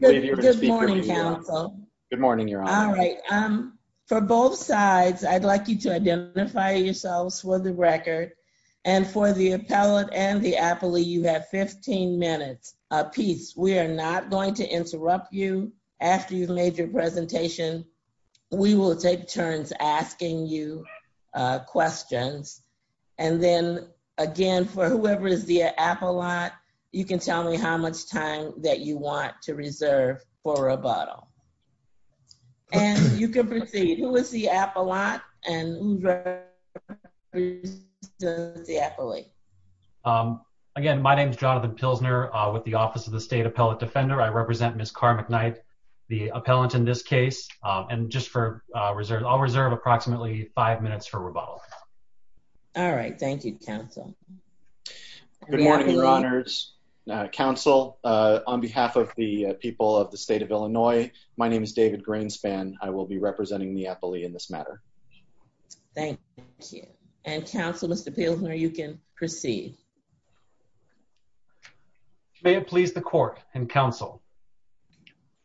Good morning, counsel. Good morning, Your Honor. All right. For both sides, I'd like you to identify yourselves for the record. And for the appellate and the appellee, you have 15 minutes apiece. We are not going to interrupt you after you've made your presentation. We will take turns asking you questions. And then, again, for whoever is the appellate, you can tell me how much time that you want to reserve for rebuttal. And you can proceed. Who is the appellate? Again, my name is Jonathan Pilsner with the Office of the State Appellate Defender. I represent Ms. Cara McKnight, the appellant in this case. And just for reserve, I'll reserve approximately five minutes for rebuttal. All right. Thank you, counsel. Good morning, Your Honors. Counsel, on behalf of the people of the state of Illinois, my name is David Greenspan. I will be representing the appellee in this matter. Thank you. And counsel, Mr. Pilsner, you can proceed. May it please the court and counsel.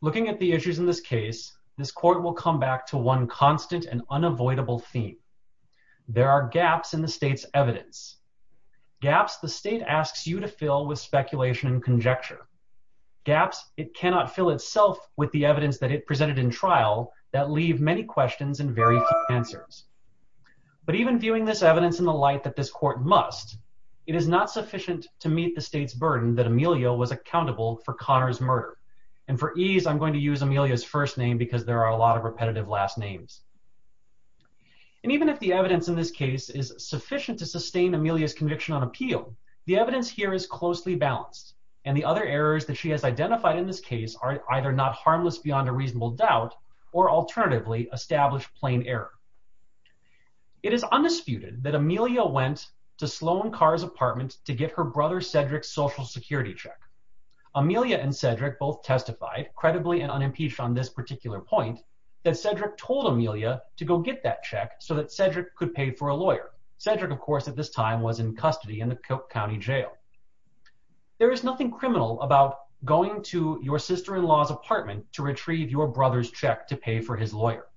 Looking at the issues in this case, this court will come back to one constant and unavoidable theme. There are gaps in the state's evidence. Gaps the state asks you to fill with speculation and conjecture. Gaps it cannot fill itself with the evidence that it presented in trial that leave many questions and very few answers. But even viewing this evidence in the light that this court must, it is not sufficient to meet the state's burden that Amelia was accountable for Connor's murder. And for ease, I'm going to use Amelia's first name because there are a lot of if the evidence in this case is sufficient to sustain Amelia's conviction on appeal, the evidence here is closely balanced and the other errors that she has identified in this case are either not harmless beyond a reasonable doubt or alternatively established plain error. It is undisputed that Amelia went to Sloan Carr's apartment to get her brother Cedric's social security check. Amelia and Cedric both testified credibly and unimpeached on this point that Cedric told Amelia to go get that check so that Cedric could pay for a lawyer. Cedric of course at this time was in custody in the Coke County jail. There is nothing criminal about going to your sister-in-law's apartment to retrieve your brother's check to pay for his lawyer.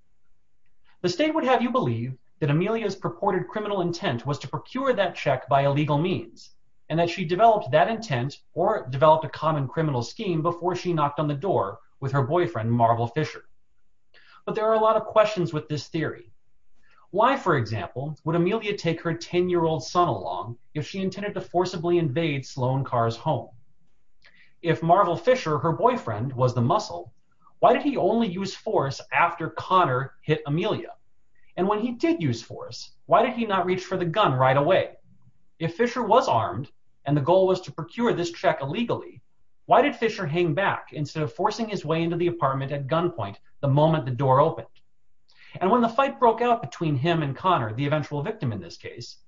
The state would have you believe that Amelia's purported criminal intent was to procure that check by illegal means and that she developed that intent or developed a common criminal scheme before she knocked on the door with her boyfriend Marvel Fisher. But there are a lot of questions with this theory. Why for example would Amelia take her 10-year-old son along if she intended to forcibly invade Sloan Carr's home? If Marvel Fisher, her boyfriend, was the muscle, why did he only use force after Connor hit Amelia? And when he did use force, why did he not reach for the gun right away? If Fisher was armed and the goal was to procure this check illegally, why did Fisher hang back instead of forcing his way into the apartment at gunpoint the moment the door opened? And when the fight broke out between him and Connor, the eventual victim in this case,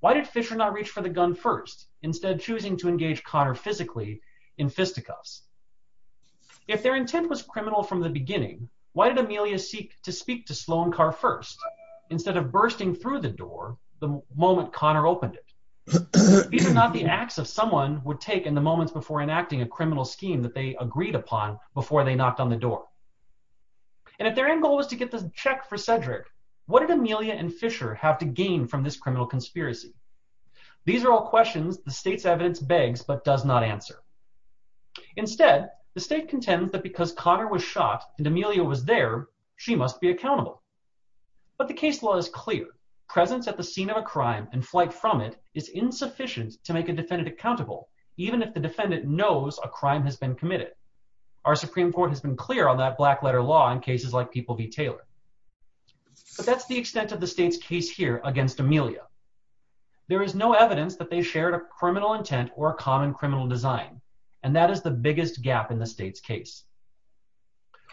why did Fisher not reach for the gun first instead choosing to engage Connor physically in fisticuffs? If their intent was criminal from the beginning, why did Amelia seek to speak to Sloan Carr first instead of bursting through the door the moment Connor opened it? These are not acts of someone would take in the moments before enacting a criminal scheme that they agreed upon before they knocked on the door. And if their end goal was to get the check for Cedric, what did Amelia and Fisher have to gain from this criminal conspiracy? These are all questions the state's evidence begs but does not answer. Instead, the state contends that because Connor was shot and Amelia was there, she must be accountable. But the case law is clear. Presence at the scene of a crime and flight from it is insufficient to make a defendant accountable, even if the defendant knows a crime has been committed. Our Supreme Court has been clear on that black letter law in cases like People v. Taylor. But that's the extent of the state's case here against Amelia. There is no evidence that they shared a criminal intent or a common criminal design, and that is the biggest gap in the state's case.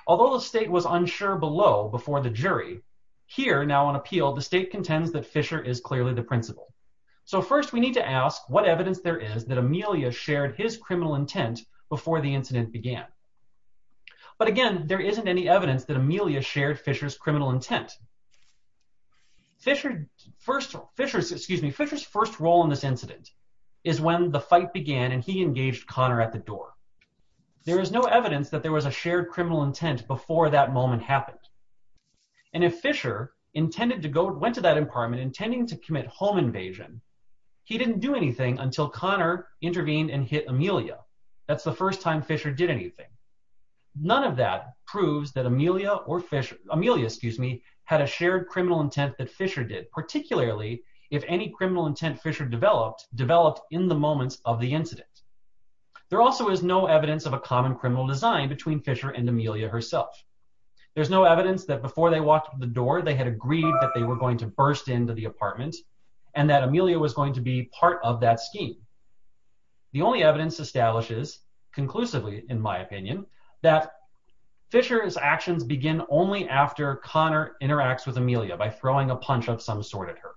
Although the state was unsure below before the First, we need to ask what evidence there is that Amelia shared his criminal intent before the incident began. But again, there isn't any evidence that Amelia shared Fisher's criminal intent. Fisher's first role in this incident is when the fight began and he engaged Connor at the door. There is no evidence that there was a shared criminal intent before that moment happened. And if Fisher went to that apartment intending to commit home invasion, he didn't do anything until Connor intervened and hit Amelia. That's the first time Fisher did anything. None of that proves that Amelia had a shared criminal intent that Fisher did, particularly if any criminal intent Fisher developed, developed in the moments of the incident. There also is no evidence of a common criminal design between Fisher and Amelia herself. There's no evidence that before they walked the door, they had agreed that they were going to burst into the apartment and that Amelia was going to be part of that scheme. The only evidence establishes conclusively, in my opinion, that Fisher's actions begin only after Connor interacts with Amelia by throwing a punch of some sort at her.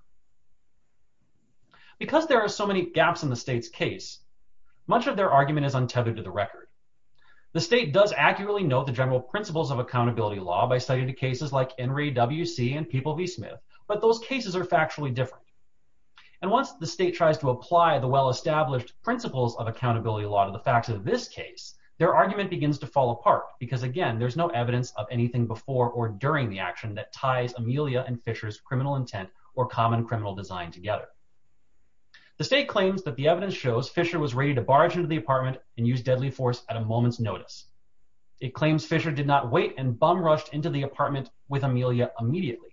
Because there are so many gaps in the state's case, much of their argument is untethered to the record. The state does accurately note the general principles of accountability law by citing the cases like Henry W.C. and People v. Smith, but those cases are factually different. And once the state tries to apply the well-established principles of accountability law to the facts of this case, their argument begins to fall apart because, again, there's no evidence of anything before or during the action that ties Amelia and Fisher's criminal intent or common criminal design together. The state claims that the evidence shows Fisher was bum-rushed into the apartment with Amelia immediately,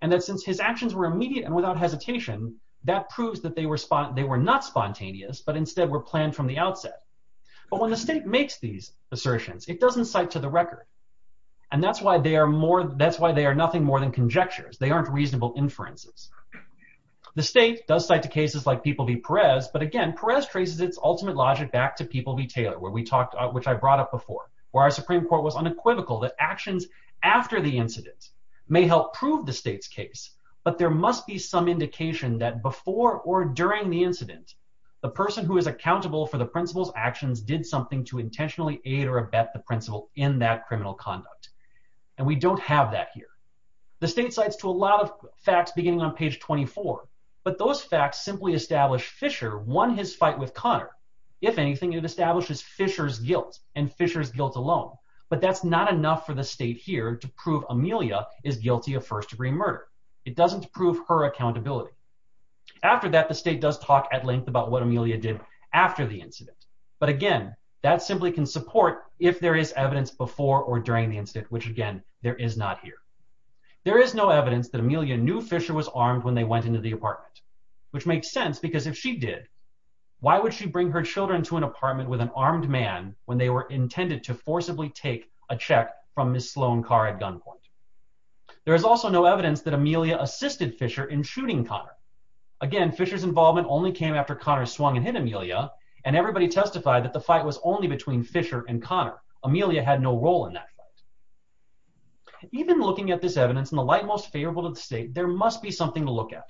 and that since his actions were immediate and without hesitation, that proves that they were not spontaneous, but instead were planned from the outset. But when the state makes these assertions, it doesn't cite to the record, and that's why they are nothing more than conjectures. They aren't reasonable inferences. The state does cite to cases like People v. Perez, but again, Perez traces its ultimate logic back to People v. Taylor, which I brought up before, where our Supreme Court argument is equivocal that actions after the incident may help prove the state's case, but there must be some indication that before or during the incident, the person who is accountable for the principal's actions did something to intentionally aid or abet the principal in that criminal conduct. And we don't have that here. The state cites to a lot of facts beginning on page 24, but those facts simply establish Fisher won his fight with Connor. If anything, it establishes Fisher's guilt, and Fisher's guilt alone, but that's not enough for the state here to prove Amelia is guilty of first-degree murder. It doesn't prove her accountability. After that, the state does talk at length about what Amelia did after the incident, but again, that simply can support if there is evidence before or during the incident, which again, there is not here. There is no evidence that Amelia knew Fisher was armed when they went into the apartment, which makes sense because if she did, why would she bring her children to an apartment with an armed man when they were intended to forcibly take a check from Ms. Sloan Carr at gunpoint? There is also no evidence that Amelia assisted Fisher in shooting Connor. Again, Fisher's involvement only came after Connor swung and hit Amelia, and everybody testified that the fight was only between Fisher and Connor. Amelia had no role in that fight. Even looking at this evidence in the light most favorable to the state, there must be something to look at,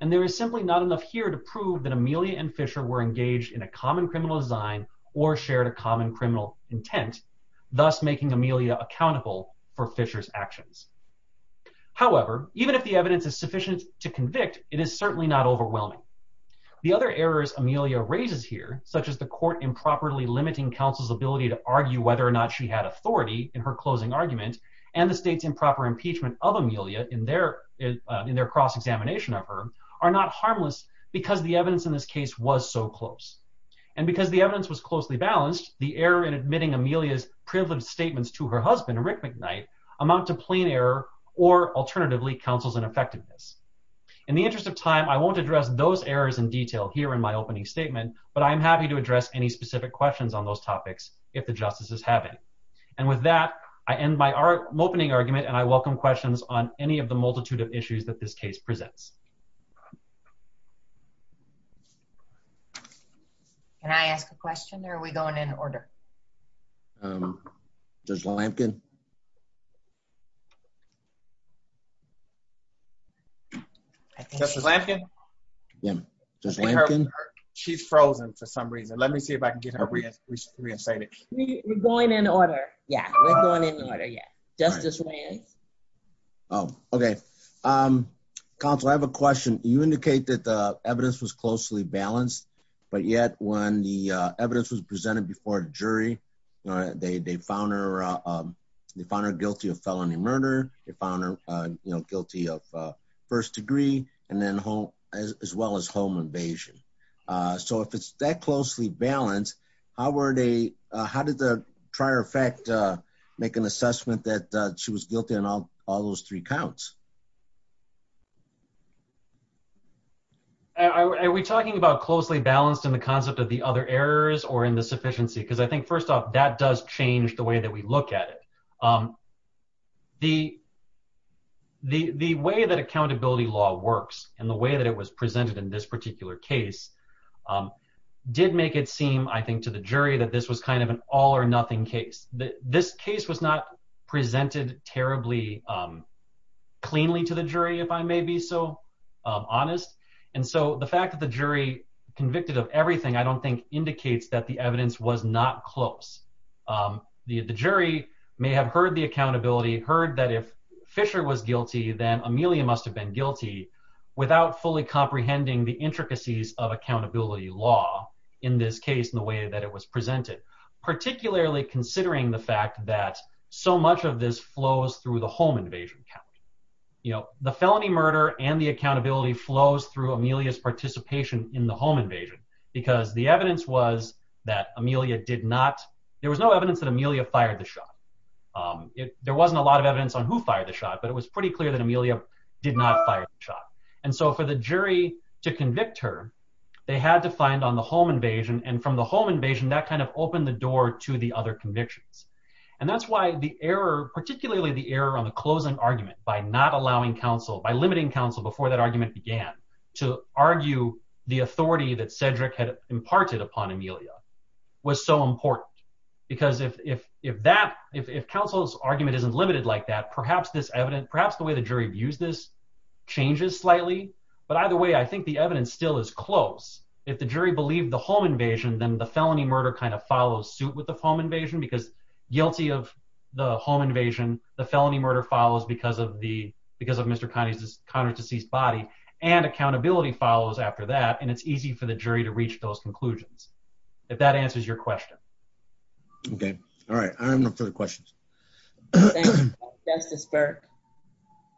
and there is simply not enough here to prove that Amelia and Fisher were engaged in a common criminal design or shared a common criminal intent, thus making Amelia accountable for Fisher's actions. However, even if the evidence is sufficient to convict, it is certainly not overwhelming. The other errors Amelia raises here, such as the court improperly limiting counsel's ability to argue whether or in their in their cross-examination of her, are not harmless because the evidence in this case was so close, and because the evidence was closely balanced, the error in admitting Amelia's privileged statements to her husband, Rick McKnight, amount to plain error or alternatively counsel's ineffectiveness. In the interest of time, I won't address those errors in detail here in my opening statement, but I'm happy to address any specific questions on those topics if the of the multitude of issues that this case presents. Can I ask a question, or are we going in order? Judge Lampkin? Justice Lampkin? She's frozen for some reason. Let me see if I can get her reinstated. We're going in order, yeah. We're going in order, yeah. Justice Williams? Oh, okay. Counsel, I have a question. You indicate that the evidence was closely balanced, but yet when the evidence was presented before a jury, they found her guilty of felony murder, they found her guilty of first degree, as well as home invasion. So if it's that closely balanced, how did the trier effect make an assessment that she was guilty on all those three counts? Are we talking about closely balanced in the concept of the other errors or in the sufficiency? Because I think first off, that does change the way that we look at it. The way that accountability law works and the way that it was presented in this particular case did make it seem, I think, to the jury that this was kind of an all or nothing case. This case was not presented terribly cleanly to the jury, if I may be so honest. And so the fact that the jury convicted of everything, I don't think indicates that the evidence was not close. The jury may have heard the accountability, heard that if Fisher was guilty, then Amelia must have been guilty without fully comprehending the intricacies of accountability law in this case, in the way that it was presented, particularly considering the fact that so much of this flows through the home invasion count. The felony murder and the accountability flows through Amelia's participation in the home invasion, because the evidence was that Amelia did not, there was no evidence that Amelia fired the shot. There wasn't a lot of evidence on who fired the shot. And so for the jury to convict her, they had to find on the home invasion. And from the home invasion, that kind of opened the door to the other convictions. And that's why the error, particularly the error on the closing argument by not allowing counsel, by limiting counsel before that argument began, to argue the authority that Cedric had imparted upon Amelia was so important. Because if that, if counsel's argument isn't limited like that, perhaps the way the jury views this changes slightly. But either way, I think the evidence still is close. If the jury believed the home invasion, then the felony murder kind of follows suit with the home invasion, because guilty of the home invasion, the felony murder follows because of Mr. Conner's deceased body, and accountability follows after that. And it's easy for the jury to reach those conclusions, if that answers your question. Okay. All right. I'm up for the questions. Justice Burke.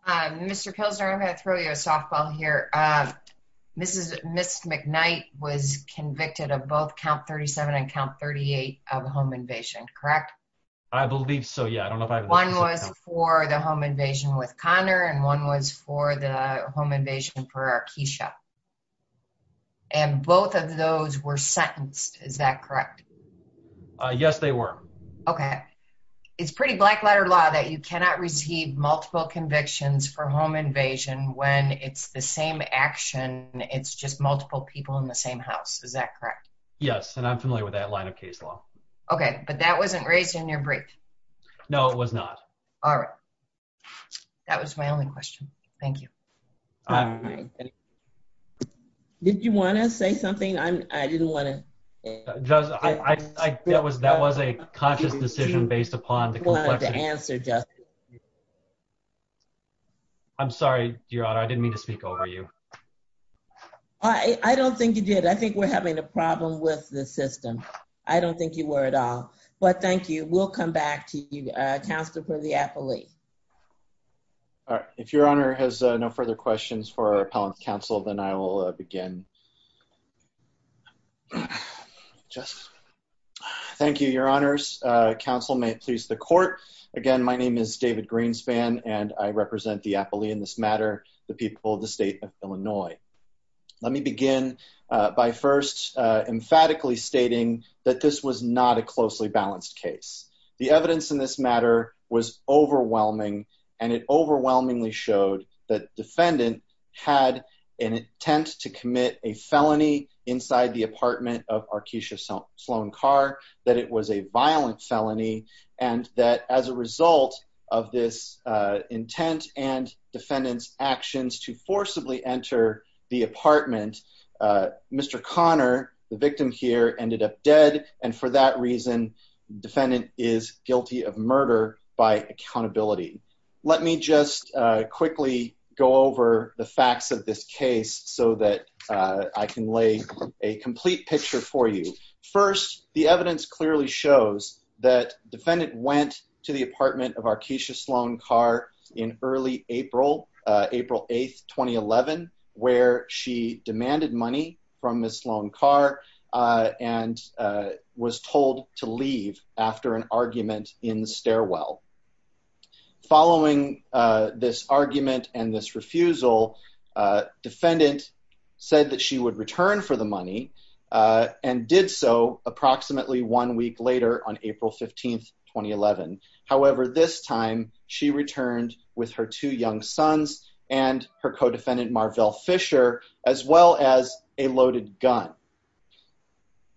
Mr. Pilsner, I'm going to throw you a softball here. Mrs. McKnight was convicted of both count 37 and count 38 of home invasion, correct? I believe so. Yeah, I don't know. One was for the home invasion with Conner, and one was for the home invasion for our Keisha. And both of those were sentenced. Is that correct? Yes, they were. Okay. It's pretty black letter law that you cannot receive multiple convictions for home invasion when it's the same action. It's just multiple people in the same house. Is that correct? Yes. And I'm familiar with that line of case law. Okay. But that wasn't raised in your brief? No, it was not. All right. That was my only question. Thank you. All right. Did you want to say something? I didn't want to. Judge, that was a conscious decision based upon the complexity. I wanted to answer, Judge. I'm sorry, Your Honor. I didn't mean to speak over you. I don't think you did. I think we're having a problem with the system. I don't think you were at all. But thank you. We'll come back to you, Counselor for the appellee. All right. If Your Honor has no further questions for our appellant counsel, then I will begin. Thank you, Your Honors. Counsel, may it please the court. Again, my name is David Greenspan, and I represent the appellee in this matter, the people of the state of Illinois. Let me begin by first emphatically stating that this was not a closely balanced case. The and it overwhelmingly showed that defendant had an intent to commit a felony inside the apartment of Arkeisha Sloan Carr, that it was a violent felony, and that as a result of this intent and defendant's actions to forcibly enter the apartment, Mr. Connor, the victim here, and for that reason, defendant is guilty of murder by accountability. Let me just quickly go over the facts of this case so that I can lay a complete picture for you. First, the evidence clearly shows that defendant went to the apartment of Arkeisha Sloan Carr in early April 8, 2011, where she demanded money from Ms. Sloan Carr and was told to leave after an argument in the stairwell. Following this argument and this refusal, defendant said that she would return for the money and did so approximately one week later on April 15, 2011. However, this time, she returned with her two young sons and her co-defendant Marvell Fisher, as well as a loaded gun.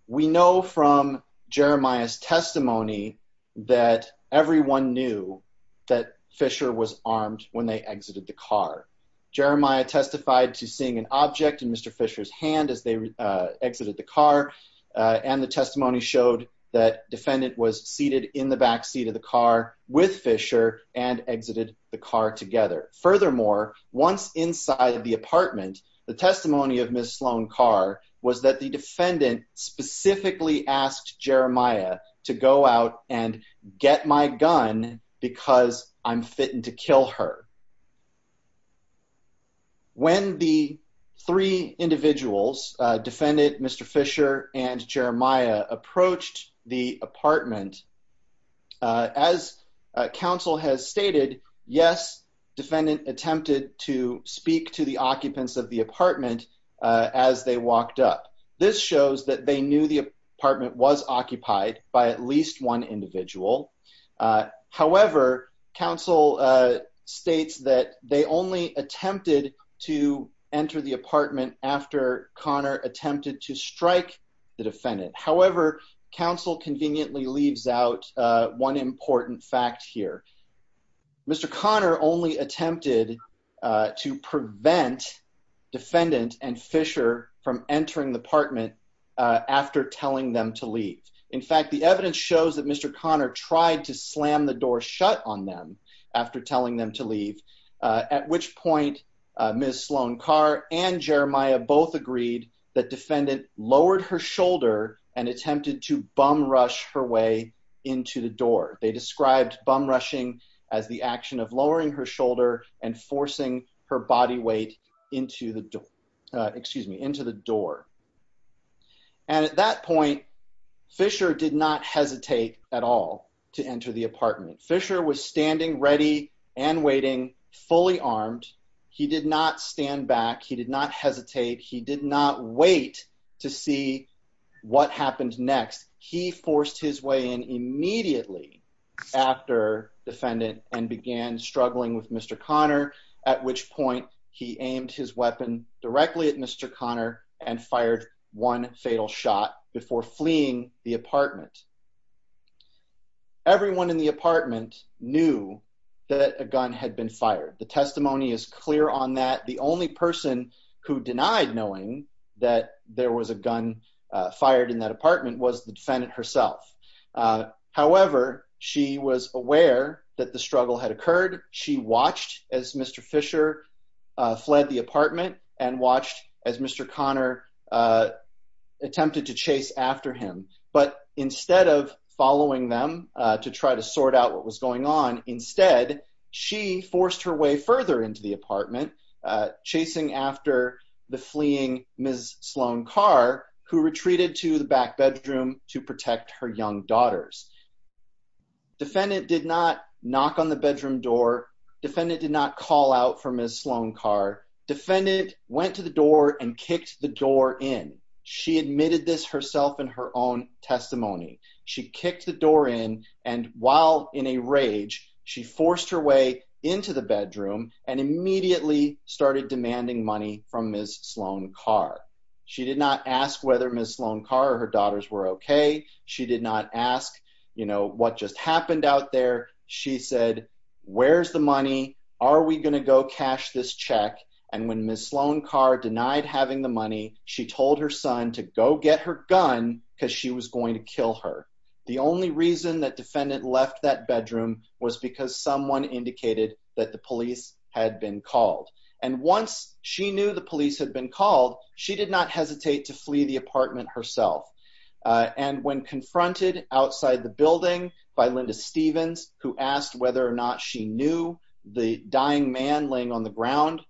We know from Jeremiah's testimony that everyone knew that Fisher was armed when they exited the car. Jeremiah testified to seeing an object in Mr. Fisher's hand as they exited the car and the testimony showed that defendant was seated in the back seat of the car with Fisher and exited the car together. Furthermore, once inside the apartment, the testimony of Ms. Sloan Carr was that the defendant specifically asked Jeremiah to go out and get my gun because I'm fitting to kill her. When the three individuals, defendant Mr. Fisher and Jeremiah, approached the apartment, as counsel has stated, yes, defendant attempted to speak to the occupants of the apartment as they walked up. This shows that they knew the apartment was occupied by at least one individual. However, counsel states that they only attempted to enter the apartment after Connor attempted to one important fact here. Mr. Connor only attempted to prevent defendant and Fisher from entering the apartment after telling them to leave. In fact, the evidence shows that Mr. Connor tried to slam the door shut on them after telling them to leave, at which point, Ms. Sloan Carr and Jeremiah both agreed that defendant lowered her shoulder and attempted to bum rush her way into the door. They described bum rushing as the action of lowering her shoulder and forcing her body weight into the door. At that point, Fisher did not hesitate at all to enter the apartment. Fisher was standing ready and waiting, fully armed. He did not stand back. He did not hesitate. He did not wait to see what happened next. He forced his way in immediately after defendant and began struggling with Mr. Connor, at which point, he aimed his weapon directly at Mr. Connor and fired one fatal shot before fleeing the apartment. Everyone in the apartment knew that a gun had been fired. The testimony is clear on that. The only person who denied knowing that there was a gun fired in that apartment was the defendant herself. However, she was aware that the struggle had occurred. She watched as Mr. Fisher fled the apartment and watched as Mr. Connor attempted to chase after him, but instead of following them to try to sort out what was going on, instead, she forced her way further into the apartment chasing after the fleeing Ms. Sloan Carr who retreated to the back bedroom to protect her young daughters. Defendant did not knock on the bedroom door. Defendant did not call out for Ms. Sloan Carr. Defendant went to the door and kicked the door in. She admitted this herself in her own testimony. She kicked the door in and while in a rage, she forced her way into the bedroom and immediately started demanding money from Ms. Sloan Carr. She did not ask whether Ms. Sloan Carr or her daughters were okay. She did not ask, you know, what just happened out there. She said, where's the money? Are we going to go cash this check? And when Ms. Sloan Carr denied having the money, she told her son to go get her gun because she was going to kill her. The only reason that had been called. And once she knew the police had been called, she did not hesitate to flee the apartment herself. And when confronted outside the building by Linda Stephens, who asked whether or not she knew the dying man laying on the ground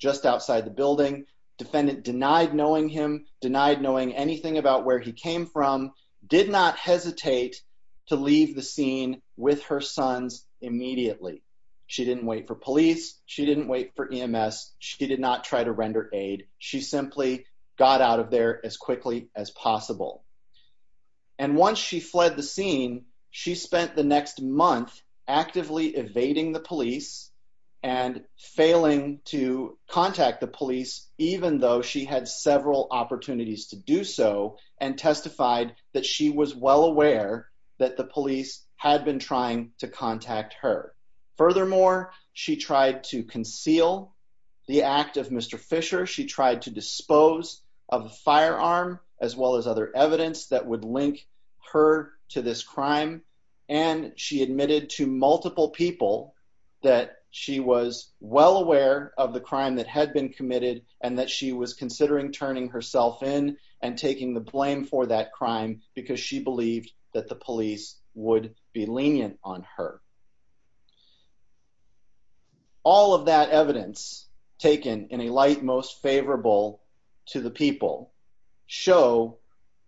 just outside the building, defendant denied knowing him, denied knowing anything about where he came from, did not hesitate to leave the scene with her sons immediately. She didn't wait for police. She didn't wait for EMS. She did not try to render aid. She simply got out of there as quickly as possible. And once she fled the scene, she spent the next month actively evading the police and failing to contact the police, even though she had several opportunities to do so and testified that she was well aware that the police had been trying to contact her. Furthermore, she tried to conceal the act of Mr. Fisher. She tried to dispose of a firearm as well as other evidence that would link her to this crime. And she admitted to multiple people that she was well aware of the crime that had been committed and that she was considering turning herself in and taking the blame for that crime because she believed that the police would be lenient on her. All of that evidence taken in a light most favorable to the people show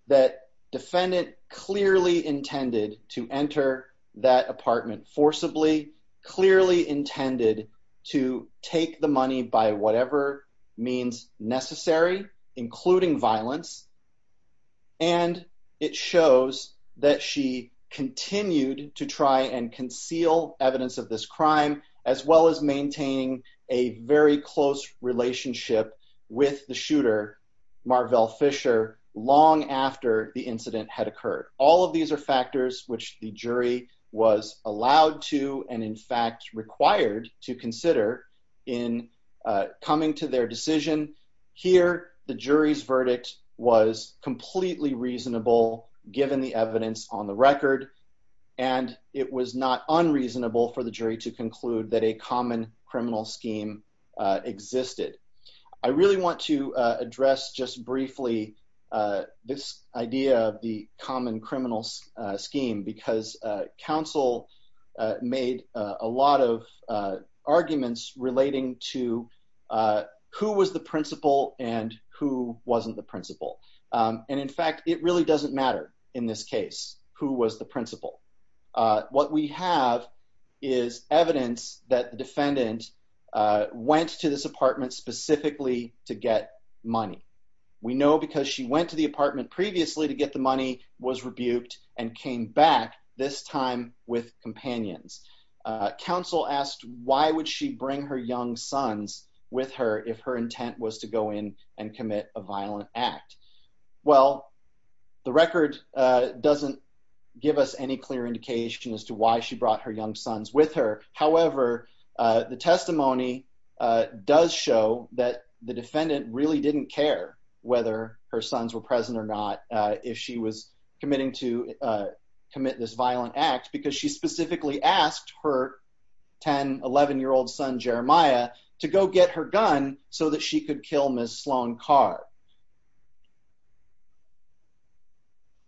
that defendant clearly intended to enter that apartment forcibly, clearly intended to take the money by whatever means necessary, including violence. And it shows that she continued to try and conceal evidence of this crime, as well as maintaining a very close relationship with the shooter, Marvell Fisher, long after the incident had occurred. All of these are factors which the jury was allowed to, and in fact, required to consider in coming to their decision. Here, the jury's verdict was completely reasonable, given the evidence on the record. And it was not unreasonable for the jury to conclude that a common criminal scheme existed. I really want to point out that counsel made a lot of arguments relating to who was the principal and who wasn't the principal. And in fact, it really doesn't matter in this case, who was the principal. What we have is evidence that the defendant went to this apartment specifically to get money. We know because she went to the apartment previously to get the money, was rebuked and came back, this time with companions. Counsel asked, why would she bring her young sons with her if her intent was to go in and commit a violent act? Well, the record doesn't give us any clear indication as to why she brought her young sons with her. However, the testimony does show that the defendant really didn't care whether her sons were present or not, if she was committing to commit this violent act, because she specifically asked her 10, 11-year-old son, Jeremiah, to go get her gun so that she could kill Ms. Sloan Carr.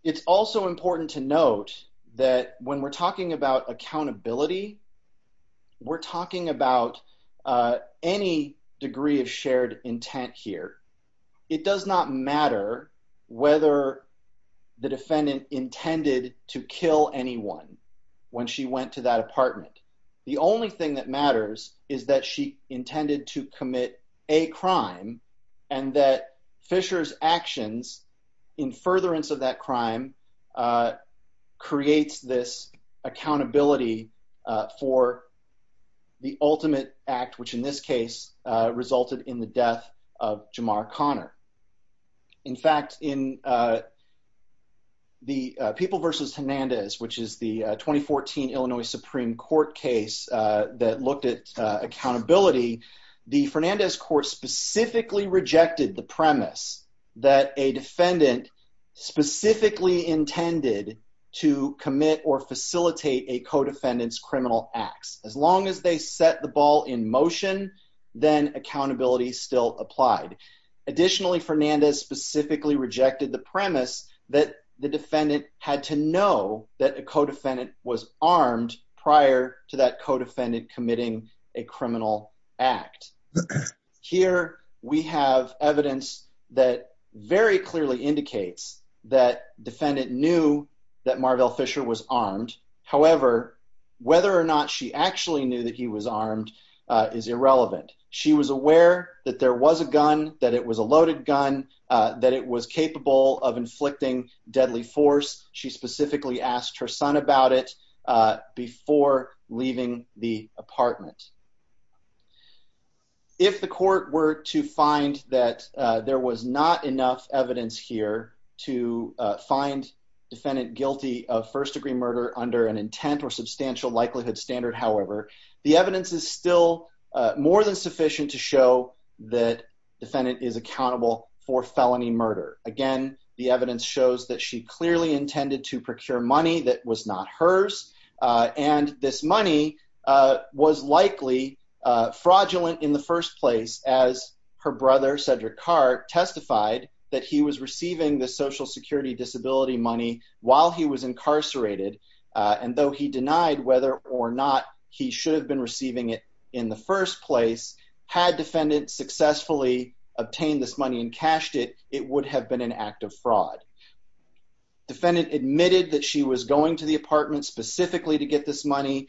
It's also important to note that when we're talking about it does not matter whether the defendant intended to kill anyone when she went to that apartment. The only thing that matters is that she intended to commit a crime and that Fisher's actions in furtherance of that crime creates this accountability for the ultimate act, which in this case resulted in the death of Jamar Conner. In fact, in the People v. Hernandez, which is the 2014 Illinois Supreme Court case that looked at accountability, the Fernandez court specifically rejected the premise that a defendant specifically intended to commit or facilitate a co-defendant's motion, then accountability still applied. Additionally, Fernandez specifically rejected the premise that the defendant had to know that a co-defendant was armed prior to that co-defendant committing a criminal act. Here we have evidence that very clearly indicates that defendant knew that Marvell Fisher was armed. However, whether or not she actually knew that he was armed is irrelevant. She was aware that there was a gun, that it was a loaded gun, that it was capable of inflicting deadly force. She specifically asked her son about it before leaving the apartment. If the court were to find that there was not enough evidence here to find defendant guilty of first-degree murder under an intent or substantial likelihood standard, however, the evidence is still more than sufficient to show that defendant is accountable for felony murder. Again, the evidence shows that she clearly intended to procure money that was not hers, and this money was likely fraudulent in the first place as her brother, Cedric Carte, testified that he was receiving the Social Security disability money while he was incarcerated, and though he denied whether or not he should have been receiving it in the first place, had defendant successfully obtained this money and cashed it, it would have been an act of fraud. The defendant admitted that she was going to the apartment specifically to get this money.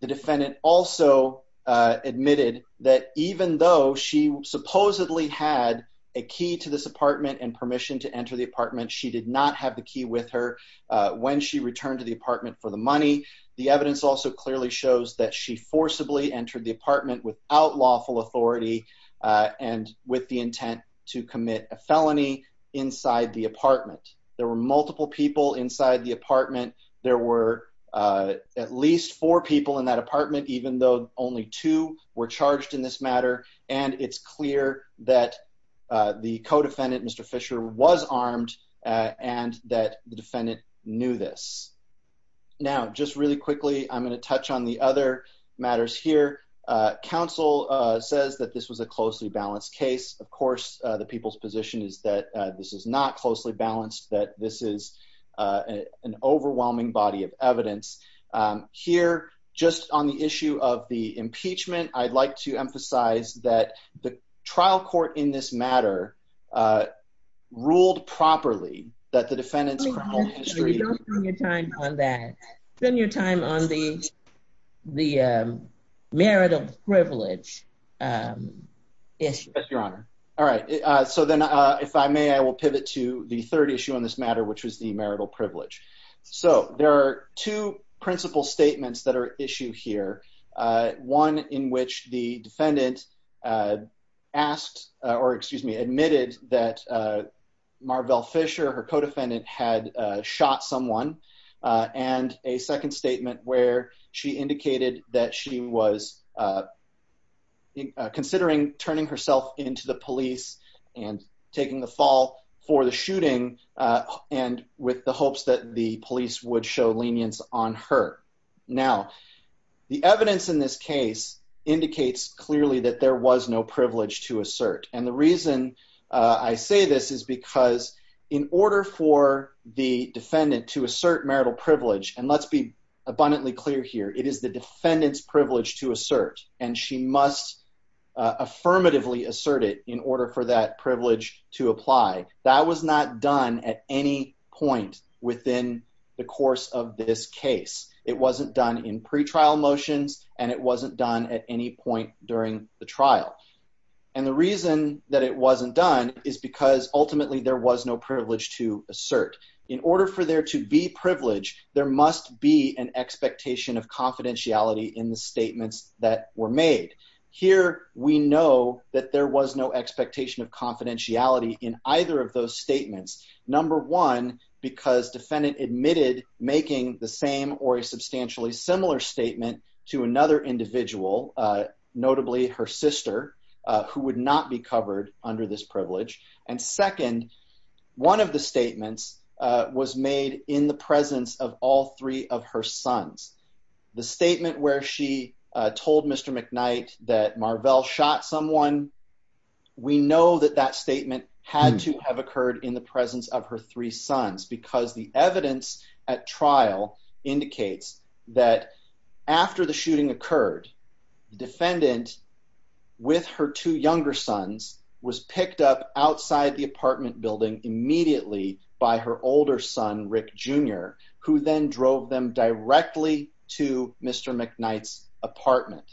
The defendant also admitted that even though she supposedly had a key to this apartment and permission to enter the apartment, she did not have the key with her when she returned to the apartment for the money. The evidence also clearly shows that she forcibly entered the apartment without lawful authority and with the intent to commit a felony inside the apartment. There were multiple people inside the apartment. There were at least four people in that apartment even though only two were charged in this matter, and it's clear that the co-defendant, Mr. Fisher, was armed and that the defendant knew this. Now, just really quickly, I'm going to touch on the other matters here. Council says that this was a closely balanced case. Of course, the people's position is that this is not closely balanced, that this is an overwhelming body of evidence. Here, just on the issue of the impeachment, I'd like to emphasize that the trial court in this matter ruled properly that the defendants... Don't spend your time on that. Spend your time on the marital privilege issue. Yes, Your Honor. All right. Then, if I may, I will pivot to the third issue on this matter, which was the marital privilege. There are two principal statements that are at issue here, one in which the defendant asked or, excuse me, admitted that Marvell Fisher, her co-defendant, had shot someone, and a second statement where she indicated that she was considering turning herself into the police and taking the fall for the shooting and with the hopes that the police would show lenience on her. Now, the evidence in this case indicates clearly that there was no privilege to assert. The reason I say this is because in order for the defendant to assert marital privilege, and let's be abundantly clear here, it is the defendant's privilege to assert, and she must affirmatively assert it in order for that privilege to apply. That was not done at any point within the course of this case. It wasn't done in pretrial motions, and it wasn't done at any point during the trial. And the reason that it wasn't done is because ultimately there was no privilege to assert. In order for there to be privilege, there must be an expectation of confidentiality in the statements that were made. Here, we know that there was no expectation of confidentiality in either of those statements, number one, because defendant admitted making the same or a substantially similar statement to another individual, notably her sister, who would not be covered under this privilege. And second, one of the statements was made in the presence of all three of her sons. The statement where she told Mr. McKnight that Marvell shot someone, we know that that statement had to have occurred in the presence of her three sons. The fact that it was in the presence of her three sons in the trial indicates that after the shooting occurred, the defendant, with her two younger sons, was picked up outside the apartment building immediately by her older son, Rick Jr., who then drove them directly to Mr. McKnight's apartment.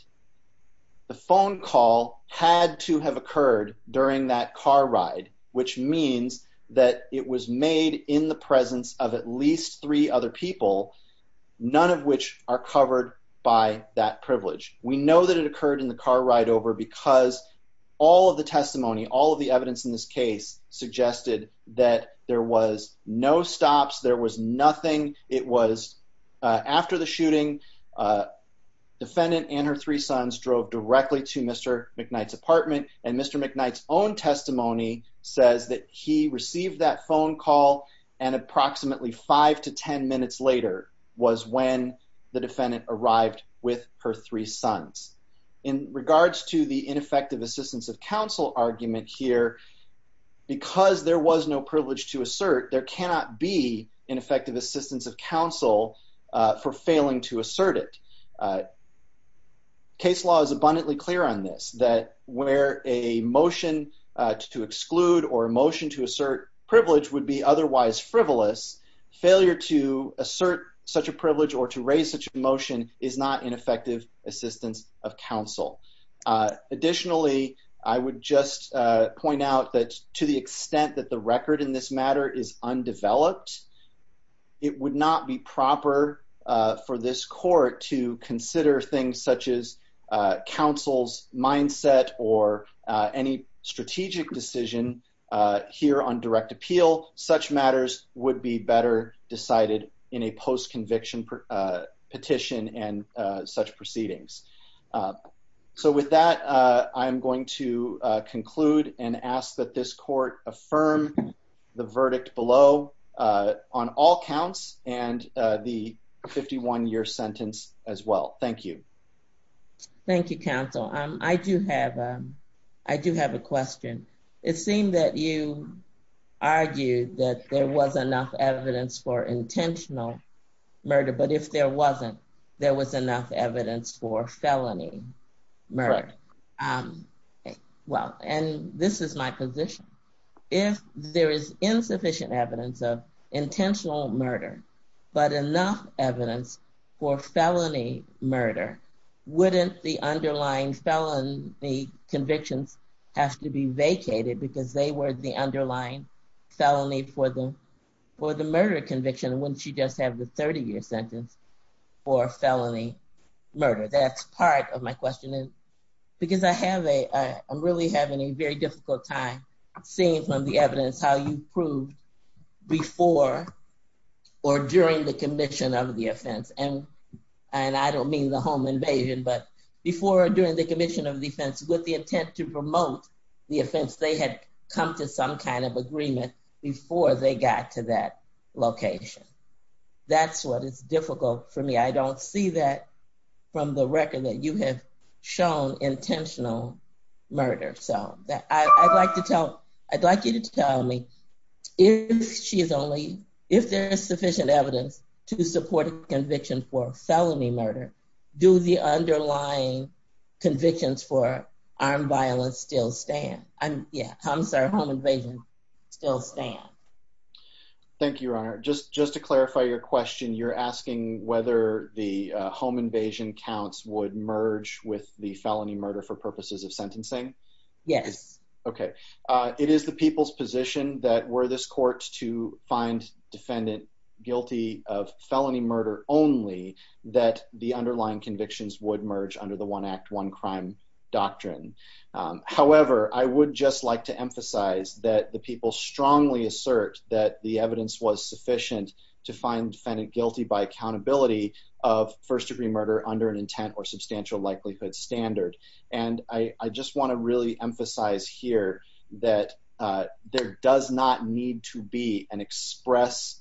The phone call had to have occurred during that car ride, which means that it was made in the presence of at least three other people, none of which are covered by that privilege. We know that it occurred in the car ride over because all of the testimony, all of the evidence in this case suggested that there was no stops, there was nothing. It was after the shooting, defendant and her three sons drove directly to Mr. McKnight's apartment, and Mr. McKnight's own testimony says that he received that phone call and approximately five to ten minutes later was when the defendant arrived with her three sons. In regards to the ineffective assistance of counsel argument here, because there was no privilege to assert, there cannot be asserted. Case law is abundantly clear on this, that where a motion to exclude or a motion to assert privilege would be otherwise frivolous, failure to assert such a privilege or to raise such a motion is not ineffective assistance of counsel. Additionally, I would just point out that to the extent that the record in this matter is undeveloped, it would not be proper for this court to consider things such as counsel's mindset or any strategic decision here on direct appeal. Such matters would be better decided in a post-conviction petition and such proceedings. So with that, I am going to conclude and ask that this court affirm the verdict below on all counts and the 51-year sentence as well. Thank you. Thank you, counsel. I do have a question. It seemed that you argued that there was enough evidence for intentional murder, but if there wasn't, there was enough evidence for felony murder. Well, and this is my position. If there is insufficient evidence of intentional murder, but enough evidence for felony murder, wouldn't the underlying felony convictions have to be vacated because they were the underlying felony for the murder conviction, wouldn't you just have a 30-year sentence for felony murder? That's part of my question. Because I'm really having a very difficult time seeing from the evidence how you proved before or during the commission of the offense. And I don't mean the home invasion, but before or during the commission of defense with the intent to promote the offense, they had come to some kind of agreement before they got to that location. That's what is difficult for me. I don't see that from the record that you have shown intentional murder. So I'd like you to tell me if there is sufficient evidence to support a conviction for felony murder, do the underlying convictions for home invasion still stand? Thank you, Your Honor. Just to clarify your question, you're asking whether the home invasion counts would merge with the felony murder for purposes of sentencing? Yes. Okay. It is the people's position that were this court to find defendant guilty of felony murder only that the underlying convictions would merge under the one act one crime doctrine. However, I would just like to emphasize that the people strongly assert that the evidence was sufficient to find defendant guilty by accountability of first degree murder under an intent or substantial likelihood standard. And I just want to really emphasize here that there does not need to be an express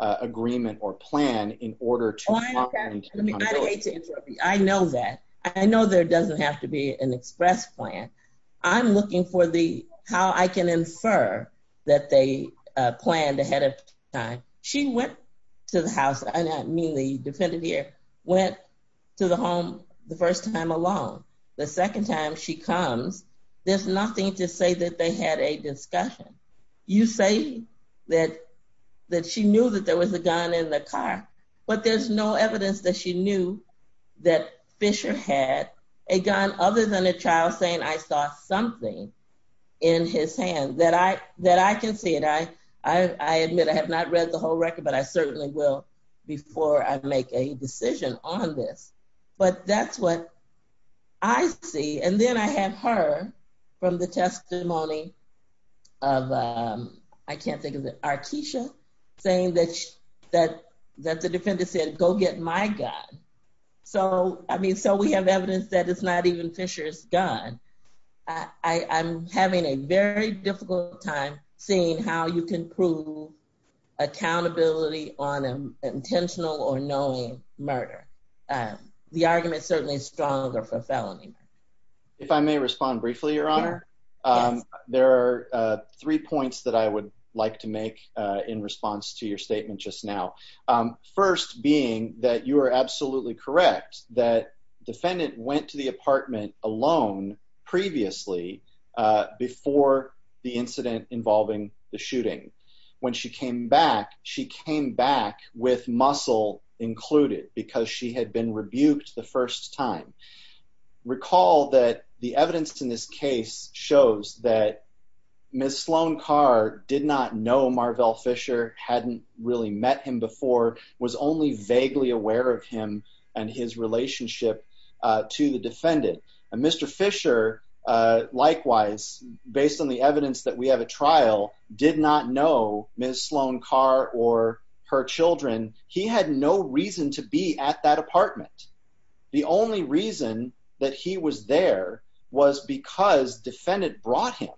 agreement or plan in order to- I know that. I know there doesn't have to be an express plan. I'm looking for the how I can infer that they planned ahead of time. She went to the house, and I mean the defendant here, went to the home the first time alone. The second time she comes, there's nothing to say that they had a discussion. You say that she knew that there was a gun in the car, but there's no evidence that she knew that Fisher had a gun other than a child saying, I saw something in his hand that I can see it. I admit I have not read the whole record, but I certainly will before I make a decision on this. But that's what I see. And then I have heard from the testimony of, I can't think of it, saying that the defendant said, go get my gun. So, I mean, so we have evidence that it's not even Fisher's gun. I'm having a very difficult time seeing how you can prove accountability on an intentional or knowing murder. The argument certainly is stronger for felony. If I may respond briefly, Your Honor. There are three points that I would like to make in response to your statement just now. First being that you are absolutely correct that defendant went to the apartment alone previously before the incident involving the shooting. When she came back, she came back with muscle included because she had been rebuked the first time. Recall that the evidence in this case shows that Ms. Sloan Carr did not know Marvell Fisher, hadn't really met him before, was only vaguely aware of him and his relationship to the defendant. And Mr. Fisher, likewise, based on the evidence that we have at trial, did not know Ms. Sloan Carr or her children. He had no reason to be at that apartment. The only reason that he was there was because defendant brought him.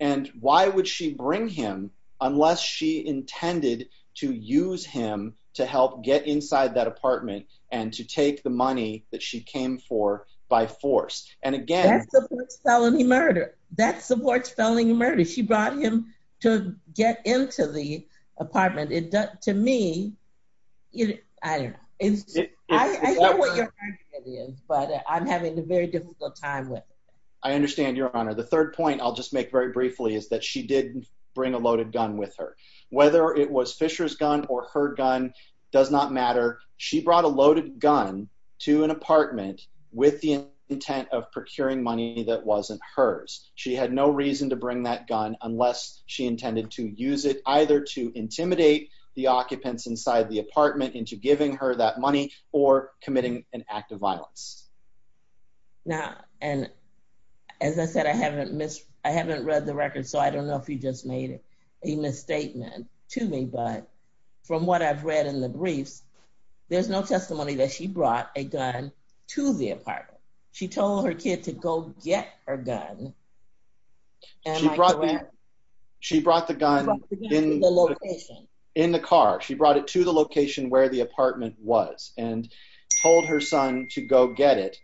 And why would she bring him unless she intended to use him to help get inside that apartment and to take the money that she came for by force? And again, that supports felony murder. That supports felony murder. She brought him to get into the apartment. To me, I don't know. I know what your argument is, but I'm having a very difficult time with it. I understand, Your Honor. The third point I'll just make very briefly is that she did bring a loaded gun with her. Whether it was Fisher's gun or her gun does not matter. She brought a loaded gun to an apartment with the intent of procuring money that wasn't hers. She had no reason to bring that gun unless she intended to use it either to intimidate the occupants inside the apartment into giving her that money or committing an act of violence. Now, and as I said, I haven't read the record, so I don't know if you just made it a misstatement to me, but from what I've read in the briefs, there's no testimony that she brought a gun to the apartment. She told her kid to go get her gun. She brought the gun in the car. She brought it to the location where the apartment was and told her son to go get it.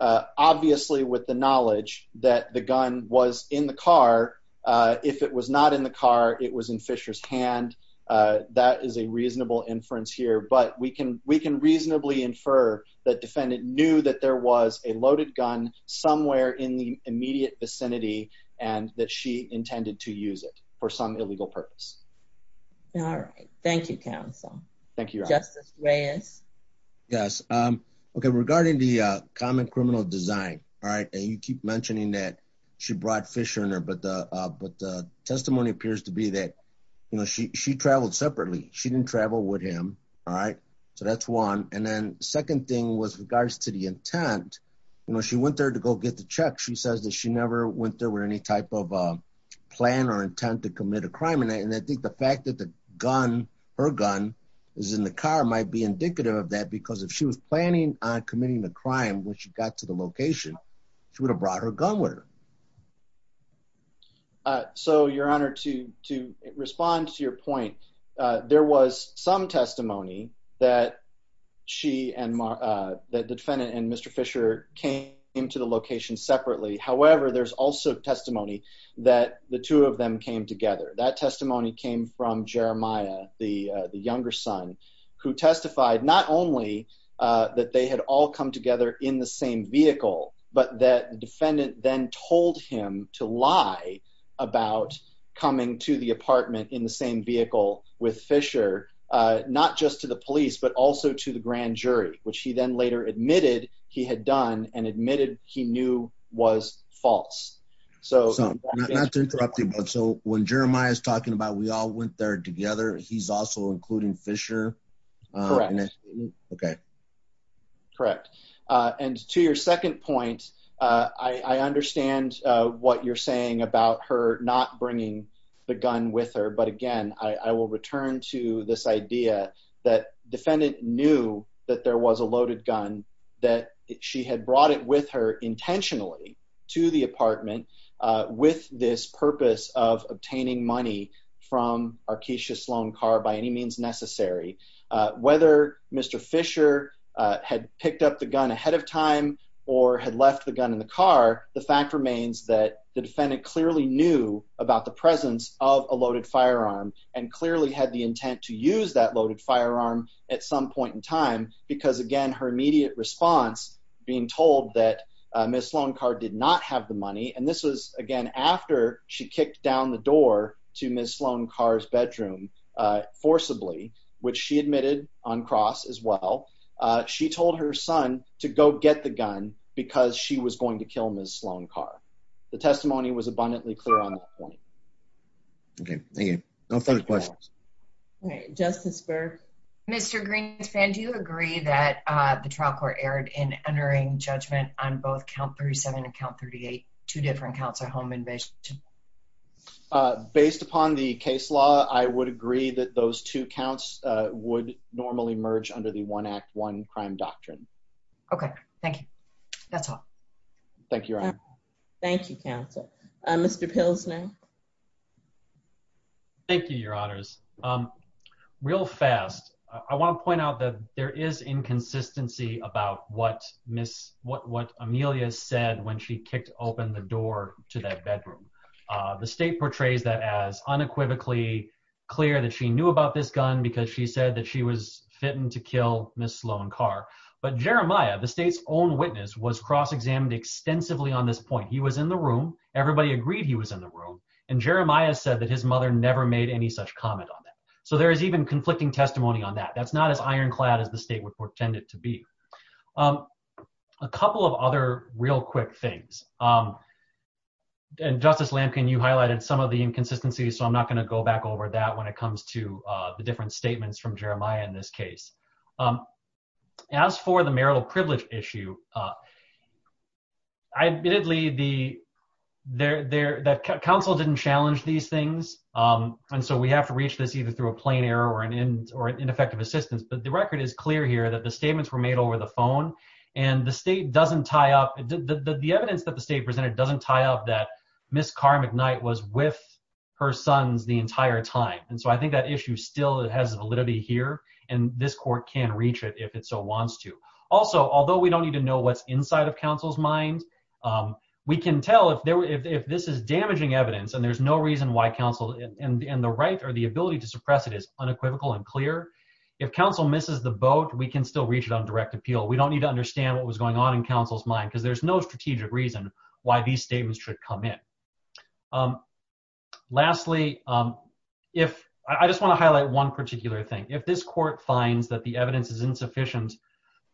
Obviously, with the knowledge that the gun was in the car, if it was not in the car, it was in Fisher's hand. That is a reasonable inference here, but we can reasonably infer that defendant knew that there was a loaded gun somewhere in the immediate vicinity and that she intended to use it for some illegal purpose. All right. Thank you, counsel. Thank you, Justice Reyes. Yes. Okay. Regarding the common criminal design, all right, and you keep mentioning that she brought Fisher in there, but the testimony appears to be that, you know, she traveled separately. She didn't travel with him. All right. So that's one. And then second thing was regards to the intent. You know, she went there to go get the check. She says that she never went there with any type of plan or intent to commit a crime. And I think the fact that the gun, her gun, is in the car might be indicative of that when she got to the location, she would have brought her gun with her. So, Your Honor, to respond to your point, there was some testimony that she and the defendant and Mr. Fisher came to the location separately. However, there's also testimony that the two of them came together. That testimony came from Jeremiah, the younger son, who testified not only that they had all come together in the same vehicle, but that the defendant then told him to lie about coming to the apartment in the same vehicle with Fisher, not just to the police, but also to the grand jury, which he then later admitted he had done and admitted he knew was false. So not to interrupt you, but so when Jeremiah is talking about we all went there together, he's also including Fisher. Correct. Okay. Correct. And to your second point, I understand what you're saying about her not bringing the gun with her. But again, I will return to this idea that defendant knew that there was a loaded gun, that she had brought it with her intentionally to the apartment with this purpose of obtaining money from our Keisha Sloan car by any means necessary. Whether Mr. Fisher had picked up the gun ahead of time or had left the gun in the car, the fact remains that the defendant clearly knew about the presence of a loaded firearm and clearly had the intent to use that loaded firearm at some point in time. Because again, her immediate response being told that Ms. Sloan car did not have the money. And this was again, after she kicked down the door to Ms. Sloan car's bedroom forcibly, which she admitted on cross as well. She told her son to go get the gun because she was going to kill Ms. Sloan car. The testimony was abundantly clear on that point. Okay. Thank you. No further questions. All right. Justice Mr Greenspan, do you agree that the trial court erred in entering judgment on both count 37 and count 38, two different counts of home invasion? Based upon the case law, I would agree that those two counts would normally merge under the one act one crime doctrine. Okay, thank you. That's all. Thank you. Thank you, counsel. Mr Pilsner. Thank you, your honors. Real fast. I want to point out that there is inconsistency about what Miss what what Amelia said when she kicked open the door to that bedroom. The state portrays that as unequivocally clear that she knew about this gun because she said that she was fitting to kill Ms. Sloan car. But Jeremiah, the state's own witness was cross examined extensively on this point. He was in the room. Everybody agreed he was in the room. And Jeremiah said that his mother never made any such comment on that. So there is even conflicting testimony on that. That's not as ironclad as the state would pretend it to be. A couple of other real quick things. And Justice Lampkin, you highlighted some of the inconsistencies. So I'm not going to go back over that when it comes to the different statements from Jeremiah in this case. As for the marital privilege issue, I admittedly the there that counsel didn't challenge these things. And so we have to reach this either through a plain error or an end or ineffective assistance. But the record is clear here that the statements were made over the phone. And the state doesn't tie up the evidence that the state presented doesn't tie up that Miss Carmichael night was with her sons the entire time. And so I think that issue still has validity here. And this court can reach it if it so wants to. Also, although we don't need to know what's inside of counsel's mind, we can tell if this is damaging evidence and there's no reason why counsel and the right or the ability to suppress it is unequivocal and clear. If counsel misses the boat, we can still reach it on direct appeal. We don't need to understand what was going on in counsel's mind because there's no strategic reason why these statements should come in. Lastly, if I just want to highlight one particular thing, if this court finds that the evidence is insufficient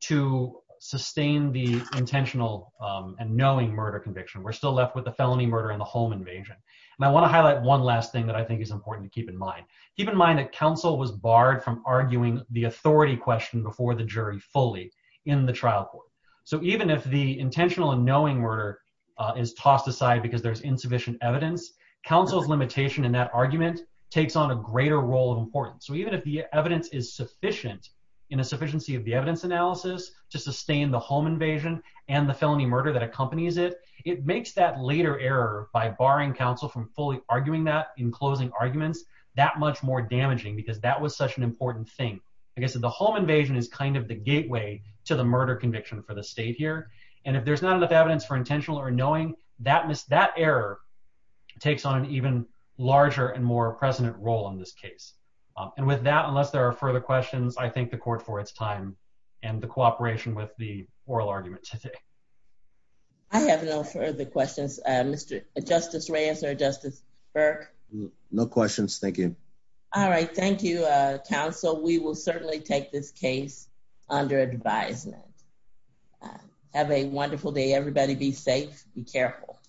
to sustain the intentional and knowing murder conviction, we're still left with the felony murder in the home invasion. And I want to highlight one last thing that I think is important to keep in mind. Keep in mind that counsel was barred from arguing the authority question before the jury fully in the trial court. So even if the intentional and knowing murder is tossed aside because there's insufficient evidence, counsel's limitation in that argument takes on a greater role of importance. So even if the evidence is sufficient in a sufficiency of the evidence analysis to sustain the home invasion and the felony murder that accompanies it, it makes that later error by barring counsel from fully arguing that in closing arguments that much more damaging because that was such an important thing. I guess the home invasion is kind of the gateway to the murder conviction for the state here. And if there's not enough evidence for intentional or And with that, unless there are further questions, I think the court for its time and the cooperation with the oral argument today. I have no further questions, Mr. Justice Reyes or Justice Burke. No questions. Thank you. All right. Thank you, counsel. We will certainly take this case under advisement. Have a wonderful day, everybody. Be safe. Be careful.